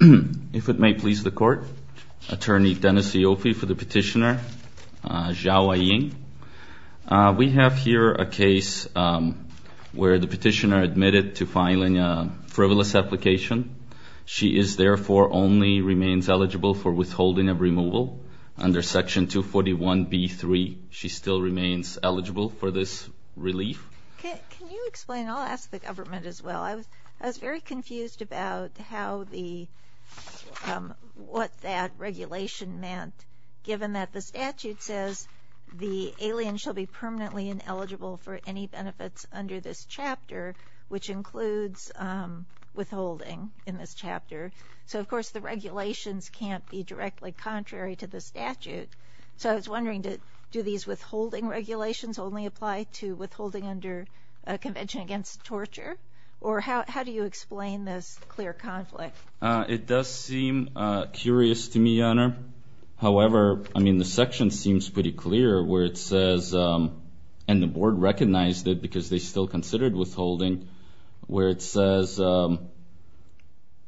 If it may please the court, Attorney Dennis Ioffe for the petitioner, Zhao Aying. We have here a case where the petitioner admitted to filing a frivolous application. She is therefore only remains eligible for withholding of removal. Under Section 241b-3, she still remains eligible for this relief. Can you explain? I'll ask the government as well. I was very confused about what that regulation meant, given that the statute says the alien shall be permanently ineligible for any benefits under this chapter, which includes withholding in this chapter. So, of course, the regulations can't be directly contrary to the statute. So I was wondering, do these withholding regulations only apply to withholding under Convention Against Torture? Or how do you explain this clear conflict? It does seem curious to me, Your Honor. However, I mean, the section seems pretty clear where it says, and the board recognized it because they still considered withholding, where it says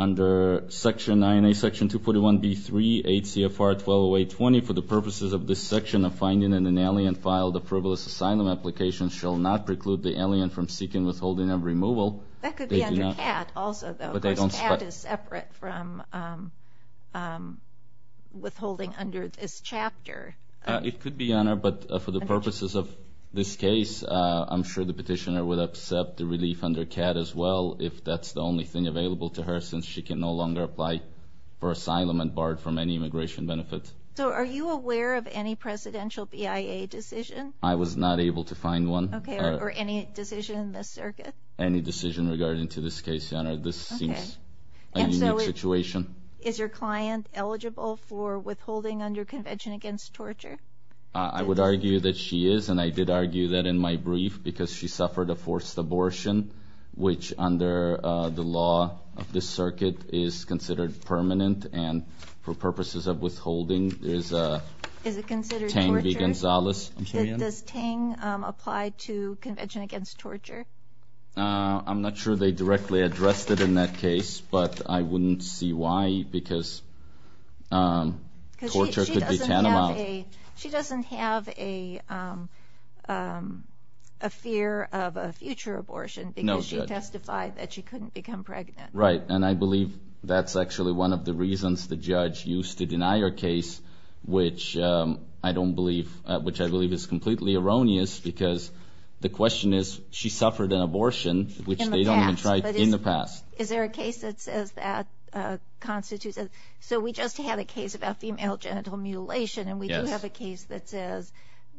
under Section 9A, Section 241b-3, 8 CFR 120820, for the purposes of this section of finding in an alien file, the frivolous asylum application shall not preclude the alien from seeking withholding of removal. That could be under CAT also, though. Of course, CAT is separate from withholding under this chapter. It could be, Your Honor, but for the purposes of this case, I'm sure the petitioner would accept the relief under CAT as well, if that's the only thing available to her since she can no longer apply for asylum and barred from any immigration benefits. So are you aware of any presidential BIA decision? I was not able to find one. Okay, or any decision in this circuit? Any decision regarding to this case, Your Honor. This seems a unique situation. Is your client eligible for withholding under Convention Against Torture? I would argue that she is, and I did argue that in my brief, because she suffered a forced abortion, which under the law of this circuit is considered permanent, and for purposes of withholding, there's a Tang v. Gonzalez. Does Tang apply to Convention Against Torture? I'm not sure they directly addressed it in that case, but I wouldn't see why because torture could be tantamount. She doesn't have a fear of a future abortion because she testified that she couldn't become pregnant. Right, and I believe that's actually one of the reasons the judge used to deny her case, which I don't believe, which I believe is completely erroneous because the question is she suffered an abortion, which they don't even try in the past. Is there a case that says that constitutes it? So we just had a case about female genital mutilation, and we do have a case that says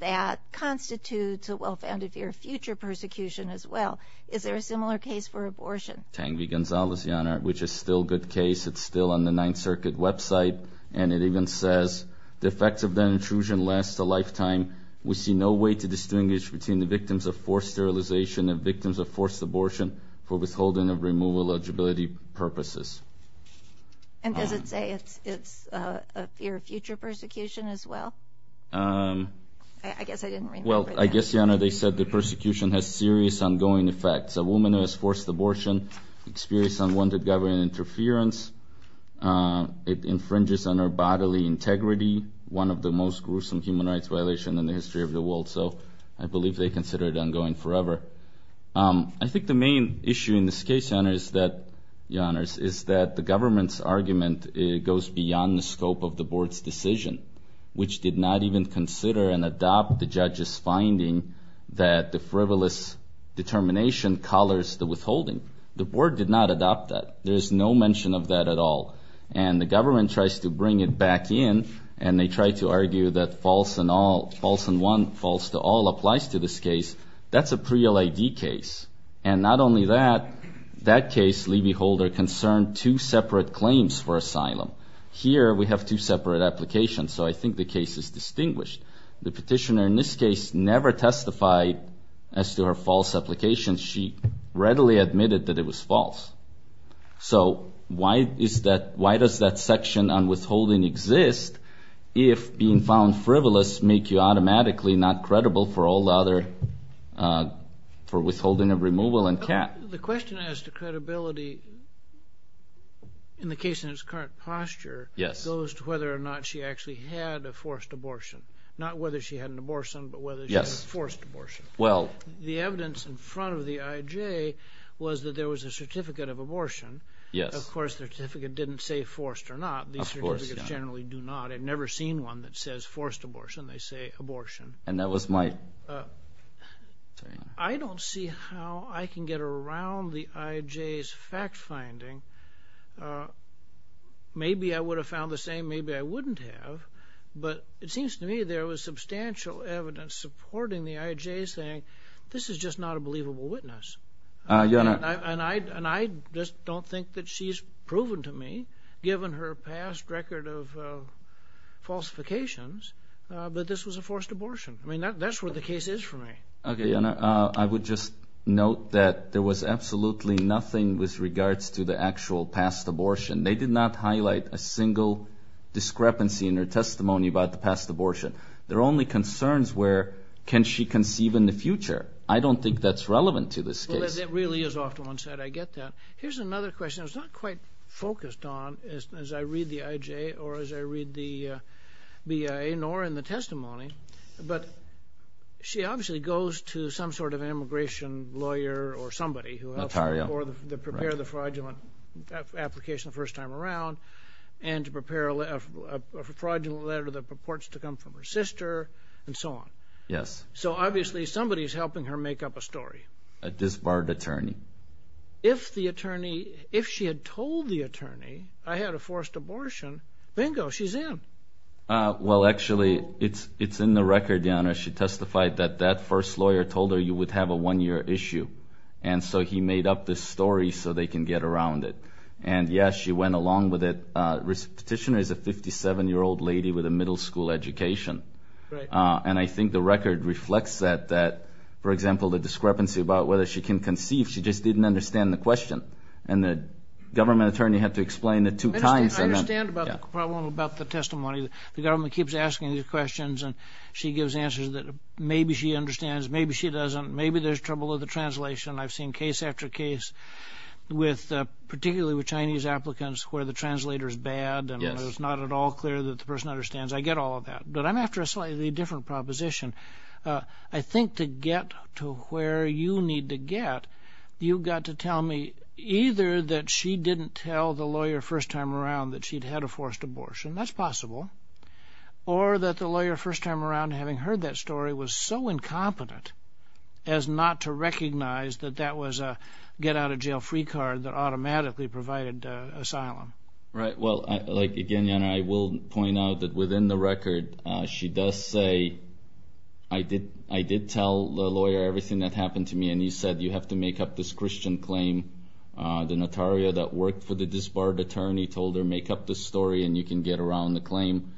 that constitutes a well-founded fear of future persecution as well. Is there a similar case for abortion? Tang v. Gonzalez, Your Honor, which is still a good case. It's still on the Ninth Circuit website, and it even says, the effects of that intrusion last a lifetime. We see no way to distinguish between the victims of forced sterilization and victims of forced abortion for withholding of removal eligibility purposes. And does it say it's a fear of future persecution as well? I guess I didn't remember that. Well, I guess, Your Honor, they said the persecution has serious ongoing effects. A woman who has forced abortion experienced unwanted government interference. It infringes on her bodily integrity, one of the most gruesome human rights violations in the history of the world. So I believe they consider it ongoing forever. I think the main issue in this case, Your Honors, is that the government's argument goes beyond the scope of the board's decision, which did not even consider and adopt the judge's finding that the frivolous determination colors the withholding. The board did not adopt that. There is no mention of that at all. And the government tries to bring it back in, and they try to argue that false and all, false and one, false to all applies to this case. That's a pre-LID case. And not only that, that case, Lee v. Holder, concerned two separate claims for asylum. Here we have two separate applications, so I think the case is distinguished. The petitioner in this case never testified as to her false application. She readily admitted that it was false. So why does that section on withholding exist if being found frivolous make you automatically not credible for withholding of removal and CAT? The question as to credibility in the case in its current posture goes to whether or not she actually had a forced abortion. Not whether she had an abortion, but whether she had a forced abortion. The evidence in front of the IJ was that there was a certificate of abortion. Of course, the certificate didn't say forced or not. These certificates generally do not. I've never seen one that says forced abortion. They say abortion. I don't see how I can get around the IJ's fact-finding. Maybe I would have found the same, maybe I wouldn't have. But it seems to me there was substantial evidence supporting the IJ saying this is just not a believable witness. And I just don't think that she's proven to me, given her past record of falsifications, that this was a forced abortion. I mean, that's what the case is for me. Okay, and I would just note that there was absolutely nothing with regards to the actual past abortion. They did not highlight a single discrepancy in her testimony about the past abortion. There are only concerns where can she conceive in the future. I don't think that's relevant to this case. That really is off to one side, I get that. Here's another question I was not quite focused on as I read the IJ or as I read the BIA nor in the testimony. But she obviously goes to some sort of immigration lawyer or somebody who helps her to prepare the fraudulent application the first time around and to prepare a fraudulent letter that purports to come from her sister and so on. So obviously somebody is helping her make up a story. A disbarred attorney. If she had told the attorney, I had a forced abortion, bingo, she's in. Well, actually, it's in the record, Your Honor. She testified that that first lawyer told her you would have a one-year issue. And so he made up this story so they can get around it. And, yes, she went along with it. The petitioner is a 57-year-old lady with a middle school education. And I think the record reflects that, that, for example, the discrepancy about whether she can conceive, she just didn't understand the question. And the government attorney had to explain it two times. I understand about the problem about the testimony. The government keeps asking these questions, and she gives answers that maybe she understands, maybe she doesn't. Maybe there's trouble with the translation. I've seen case after case, particularly with Chinese applicants, where the translator is bad and it's not at all clear that the person understands. I get all of that. But I'm after a slightly different proposition. I think to get to where you need to get, you've got to tell me either that she didn't tell the lawyer first time around that she'd had a forced abortion, that's possible, or that the lawyer first time around, having heard that story, was so incompetent as not to recognize that that was a get-out-of-jail-free card that automatically provided asylum. Right. She does say, I did tell the lawyer everything that happened to me, and you said you have to make up this Christian claim. The notaria that worked for the disbarred attorney told her, make up this story and you can get around the claim.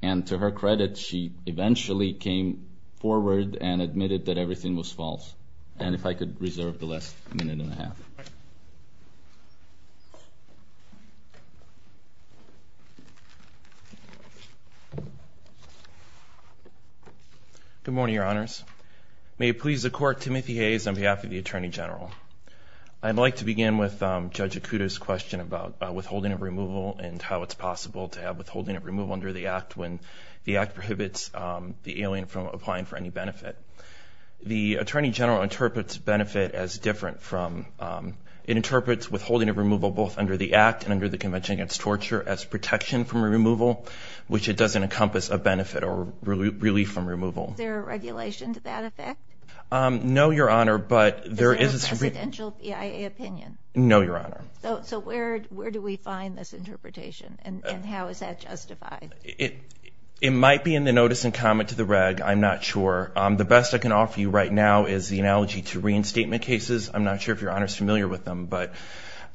And to her credit, she eventually came forward and admitted that everything was false. And if I could reserve the last minute and a half. All right. Good morning, Your Honors. May it please the Court, Timothy Hayes on behalf of the Attorney General. I'd like to begin with Judge Ikuda's question about withholding of removal and how it's possible to have withholding of removal under the Act when the Act prohibits the alien from applying for any benefit. The Attorney General interprets withholding of removal both under the Act and under the Convention Against Torture as protection from removal, which it doesn't encompass a benefit or relief from removal. Is there a regulation to that effect? No, Your Honor, but there is. Is it a presidential PIA opinion? No, Your Honor. So where do we find this interpretation and how is that justified? It might be in the notice and comment to the reg. I'm not sure. The best I can offer you right now is the analogy to reinstatement cases. I'm not sure if Your Honor is familiar with them.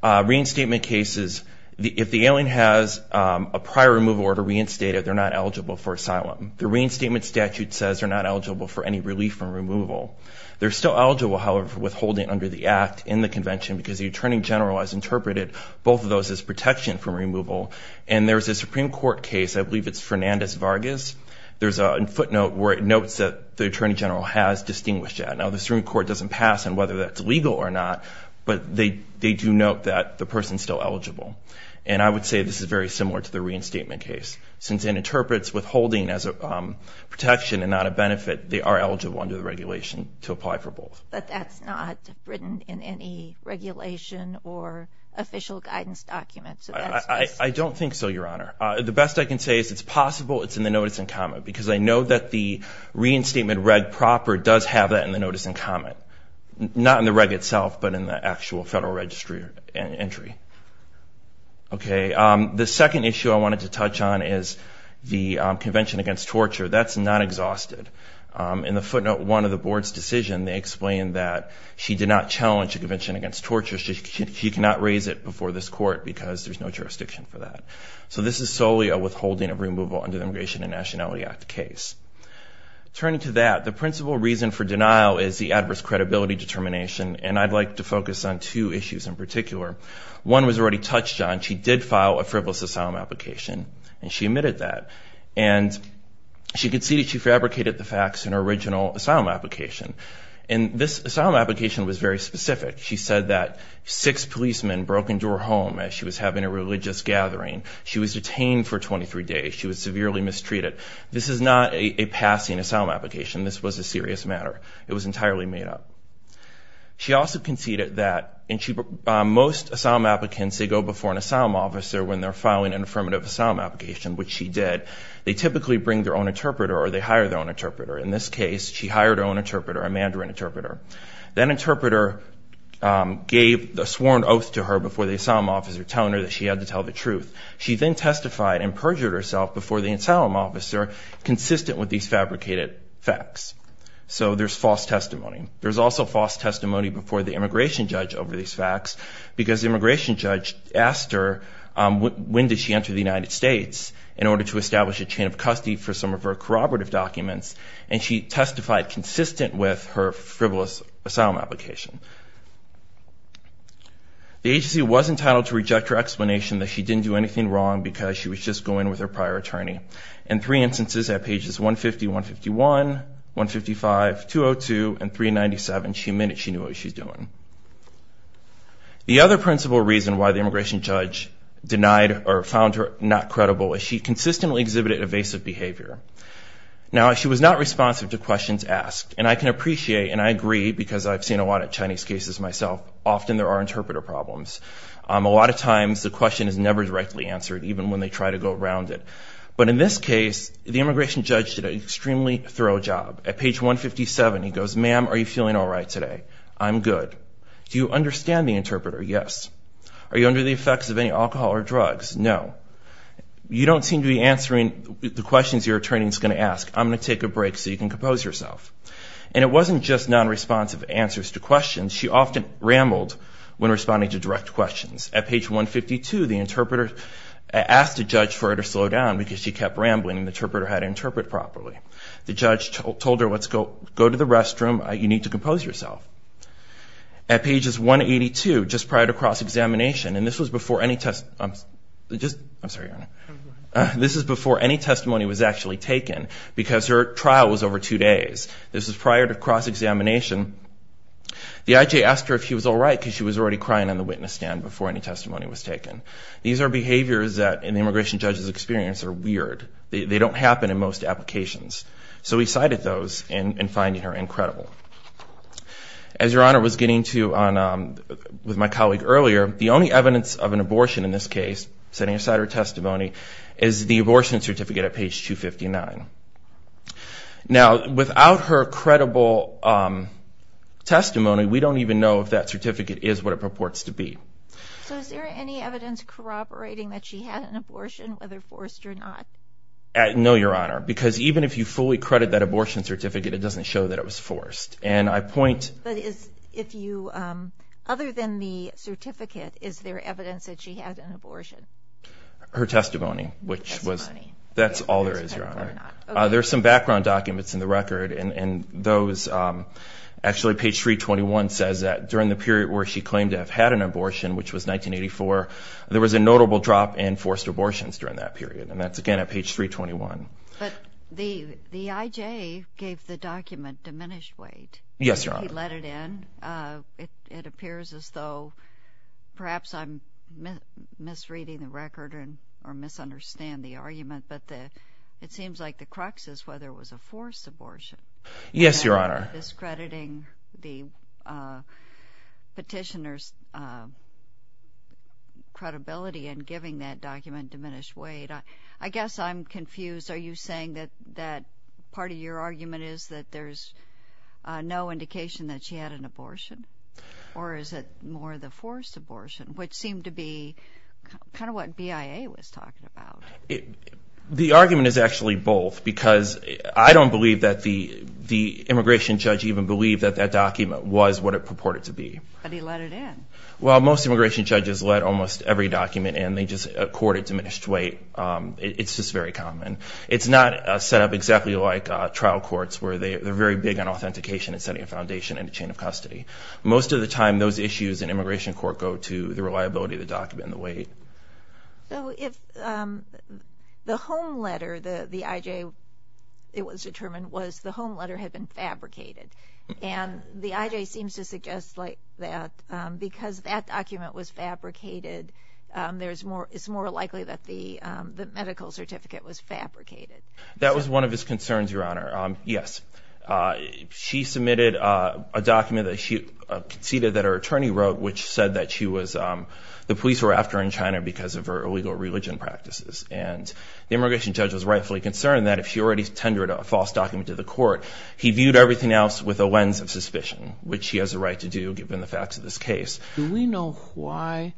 Reinstatement cases, if the alien has a prior removal order reinstated, they're not eligible for asylum. The reinstatement statute says they're not eligible for any relief from removal. They're still eligible, however, for withholding under the Act in the convention because the Attorney General has interpreted both of those as protection from removal. And there's a Supreme Court case, I believe it's Fernandez-Vargas. There's a footnote where it notes that the Attorney General has distinguished that. Now, the Supreme Court doesn't pass on whether that's legal or not, but they do note that the person is still eligible. And I would say this is very similar to the reinstatement case. Since it interprets withholding as a protection and not a benefit, they are eligible under the regulation to apply for both. But that's not written in any regulation or official guidance document. I don't think so, Your Honor. The best I can say is it's possible it's in the notice and comment because I know that the reinstatement reg proper does have that in the notice and comment. Not in the reg itself, but in the actual Federal Registry entry. Okay, the second issue I wanted to touch on is the Convention Against Torture. That's not exhausted. In the footnote 1 of the Board's decision, they explain that she did not challenge the Convention Against Torture. She cannot raise it before this Court because there's no jurisdiction for that. So this is solely a withholding of removal under the Immigration and Nationality Act case. Turning to that, the principal reason for denial is the adverse credibility determination, and I'd like to focus on two issues in particular. One was already touched on. She did file a frivolous asylum application, and she admitted that. And she conceded she fabricated the facts in her original asylum application. And this asylum application was very specific. She said that six policemen broke into her home as she was having a religious gathering. She was detained for 23 days. She was severely mistreated. This is not a passing asylum application. This was a serious matter. It was entirely made up. She also conceded that most asylum applicants, they go before an asylum officer when they're filing an affirmative asylum application, which she did. They typically bring their own interpreter or they hire their own interpreter. In this case, she hired her own interpreter, a Mandarin interpreter. That interpreter gave a sworn oath to her before the asylum officer, telling her that she had to tell the truth. She then testified and perjured herself before the asylum officer, consistent with these fabricated facts. So there's false testimony. There's also false testimony before the immigration judge over these facts because the immigration judge asked her when did she enter the United States in order to establish a chain of custody for some of her corroborative documents, and she testified consistent with her frivolous asylum application. The agency was entitled to reject her explanation that she didn't do anything wrong because she was just going with her prior attorney. In three instances at pages 150, 151, 155, 202, and 397, she admitted she knew what she was doing. The other principal reason why the immigration judge denied or found her not credible is she consistently exhibited evasive behavior. Now, she was not responsive to questions asked, and I can appreciate, and I agree because I've seen a lot of Chinese cases myself, often there are interpreter problems. A lot of times the question is never directly answered, even when they try to go around it. But in this case, the immigration judge did an extremely thorough job. At page 157, he goes, Ma'am, are you feeling all right today? I'm good. Do you understand the interpreter? Yes. Are you under the effects of any alcohol or drugs? No. You don't seem to be answering the questions your attorney is going to ask. I'm going to take a break so you can compose yourself. And it wasn't just non-responsive answers to questions. She often rambled when responding to direct questions. At page 152, the interpreter asked the judge for her to slow down because she kept rambling and the interpreter had to interpret properly. The judge told her, Let's go to the restroom. You need to compose yourself. At pages 182, just prior to cross-examination, and this was before any testimony was actually taken because her trial was over two days. This was prior to cross-examination. The IJ asked her if she was all right because she was already crying on the witness stand before any testimony was taken. These are behaviors that, in the immigration judge's experience, are weird. They don't happen in most applications. So he cited those in finding her incredible. As Your Honor was getting to with my colleague earlier, the only evidence of an abortion in this case, setting aside her testimony, is the abortion certificate at page 259. Now, without her credible testimony, we don't even know if that certificate is what it purports to be. So is there any evidence corroborating that she had an abortion, whether forced or not? No, Your Honor, because even if you fully credit that abortion certificate, it doesn't show that it was forced. Her testimony, which was... That's all there is, Your Honor. There's some background documents in the record, and those actually page 321 says that during the period where she claimed to have had an abortion, which was 1984, there was a notable drop in forced abortions during that period, and that's again at page 321. But the IJ gave the document diminished weight. Yes, Your Honor. He let it in. It appears as though perhaps I'm misreading the record or misunderstand the argument, but it seems like the crux is whether it was a forced abortion. Yes, Your Honor. And we're discrediting the petitioner's credibility in giving that document diminished weight. I guess I'm confused. Are you saying that part of your argument is that there's no indication that she had an abortion, or is it more the forced abortion, which seemed to be kind of what BIA was talking about? The argument is actually both, because I don't believe that the immigration judge even believed that that document was what it purported to be. But he let it in. Well, most immigration judges let almost every document in. They just accord it diminished weight. It's just very common. It's not set up exactly like trial courts, where they're very big on authentication and setting a foundation and a chain of custody. Most of the time, those issues in immigration court go to the reliability of the document and the weight. So if the home letter, the IJ, it was determined, was the home letter had been fabricated, and the IJ seems to suggest that because that document was fabricated, it's more likely that the medical certificate was fabricated. That was one of his concerns, Your Honor. Yes. She submitted a document that she conceded that her attorney wrote, which said that the police were after her in China because of her illegal religion practices. And the immigration judge was rightfully concerned that if she already tendered a false document to the court, he viewed everything else with a lens of suspicion, which he has a right to do, given the facts of this case. Do we know why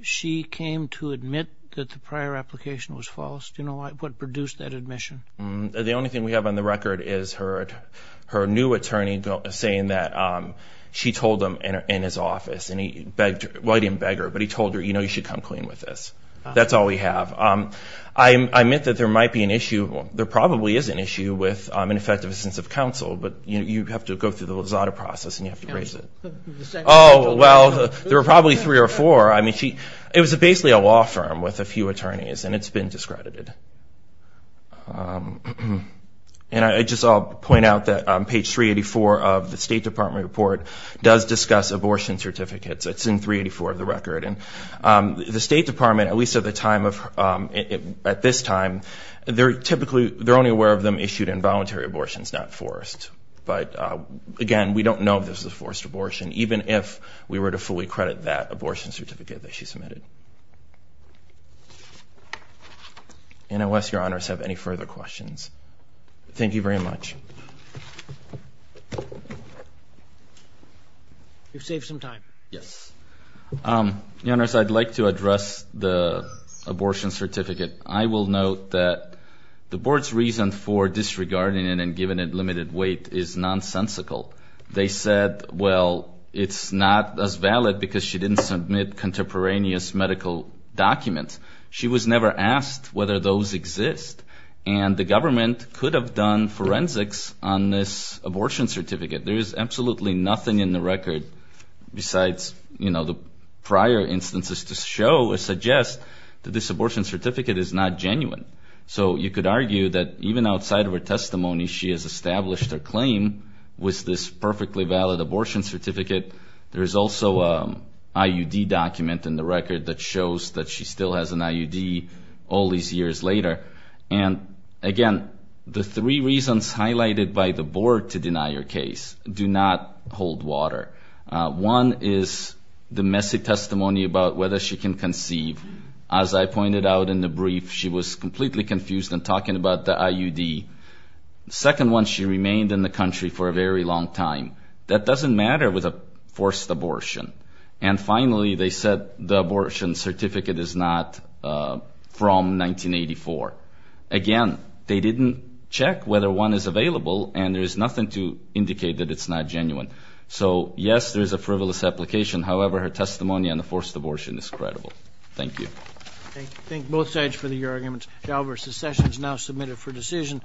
she came to admit that the prior application was false? Do you know what produced that admission? The only thing we have on the record is her new attorney saying that she told him in his office, and he begged her, well, he didn't beg her, but he told her, you know, you should come clean with this. That's all we have. I admit that there might be an issue, there probably is an issue with ineffective assistance of counsel, but you have to go through the Lozada process, and you have to raise it. Oh, well, there were probably three or four. I mean, it was basically a law firm with a few attorneys, and it's been discredited. And I'll just point out that on page 384 of the State Department report does discuss abortion certificates. It's in 384 of the record. And the State Department, at least at this time, they're only aware of them issued in voluntary abortions, not forced. But, again, we don't know if this is a forced abortion, even if we were to fully credit that abortion certificate that she submitted. NOS, Your Honors, have any further questions? Thank you very much. You've saved some time. Yes. Your Honors, I'd like to address the abortion certificate. I will note that the Board's reason for disregarding it and giving it limited weight is nonsensical. They said, well, it's not as valid because she didn't submit contemporaneous medical documents. She was never asked whether those exist. And the government could have done forensics on this abortion certificate. There is absolutely nothing in the record besides the prior instances to show or suggest that this abortion certificate is not genuine. So you could argue that even outside of her testimony, she has established her claim with this perfectly valid abortion certificate. There is also an IUD document in the record that shows that she still has an IUD all these years later. And, again, the three reasons highlighted by the Board to deny her case do not hold water. One is the messy testimony about whether she can conceive. As I pointed out in the brief, she was completely confused in talking about the IUD. The second one, she remained in the country for a very long time. That doesn't matter with a forced abortion. And, finally, they said the abortion certificate is not from 1984. Again, they didn't check whether one is available, and there is nothing to indicate that it's not genuine. So, yes, there is a frivolous application. However, her testimony on the forced abortion is credible. Thank you. Thank you. Thank both sides for the arguments. The session is now submitted for decision.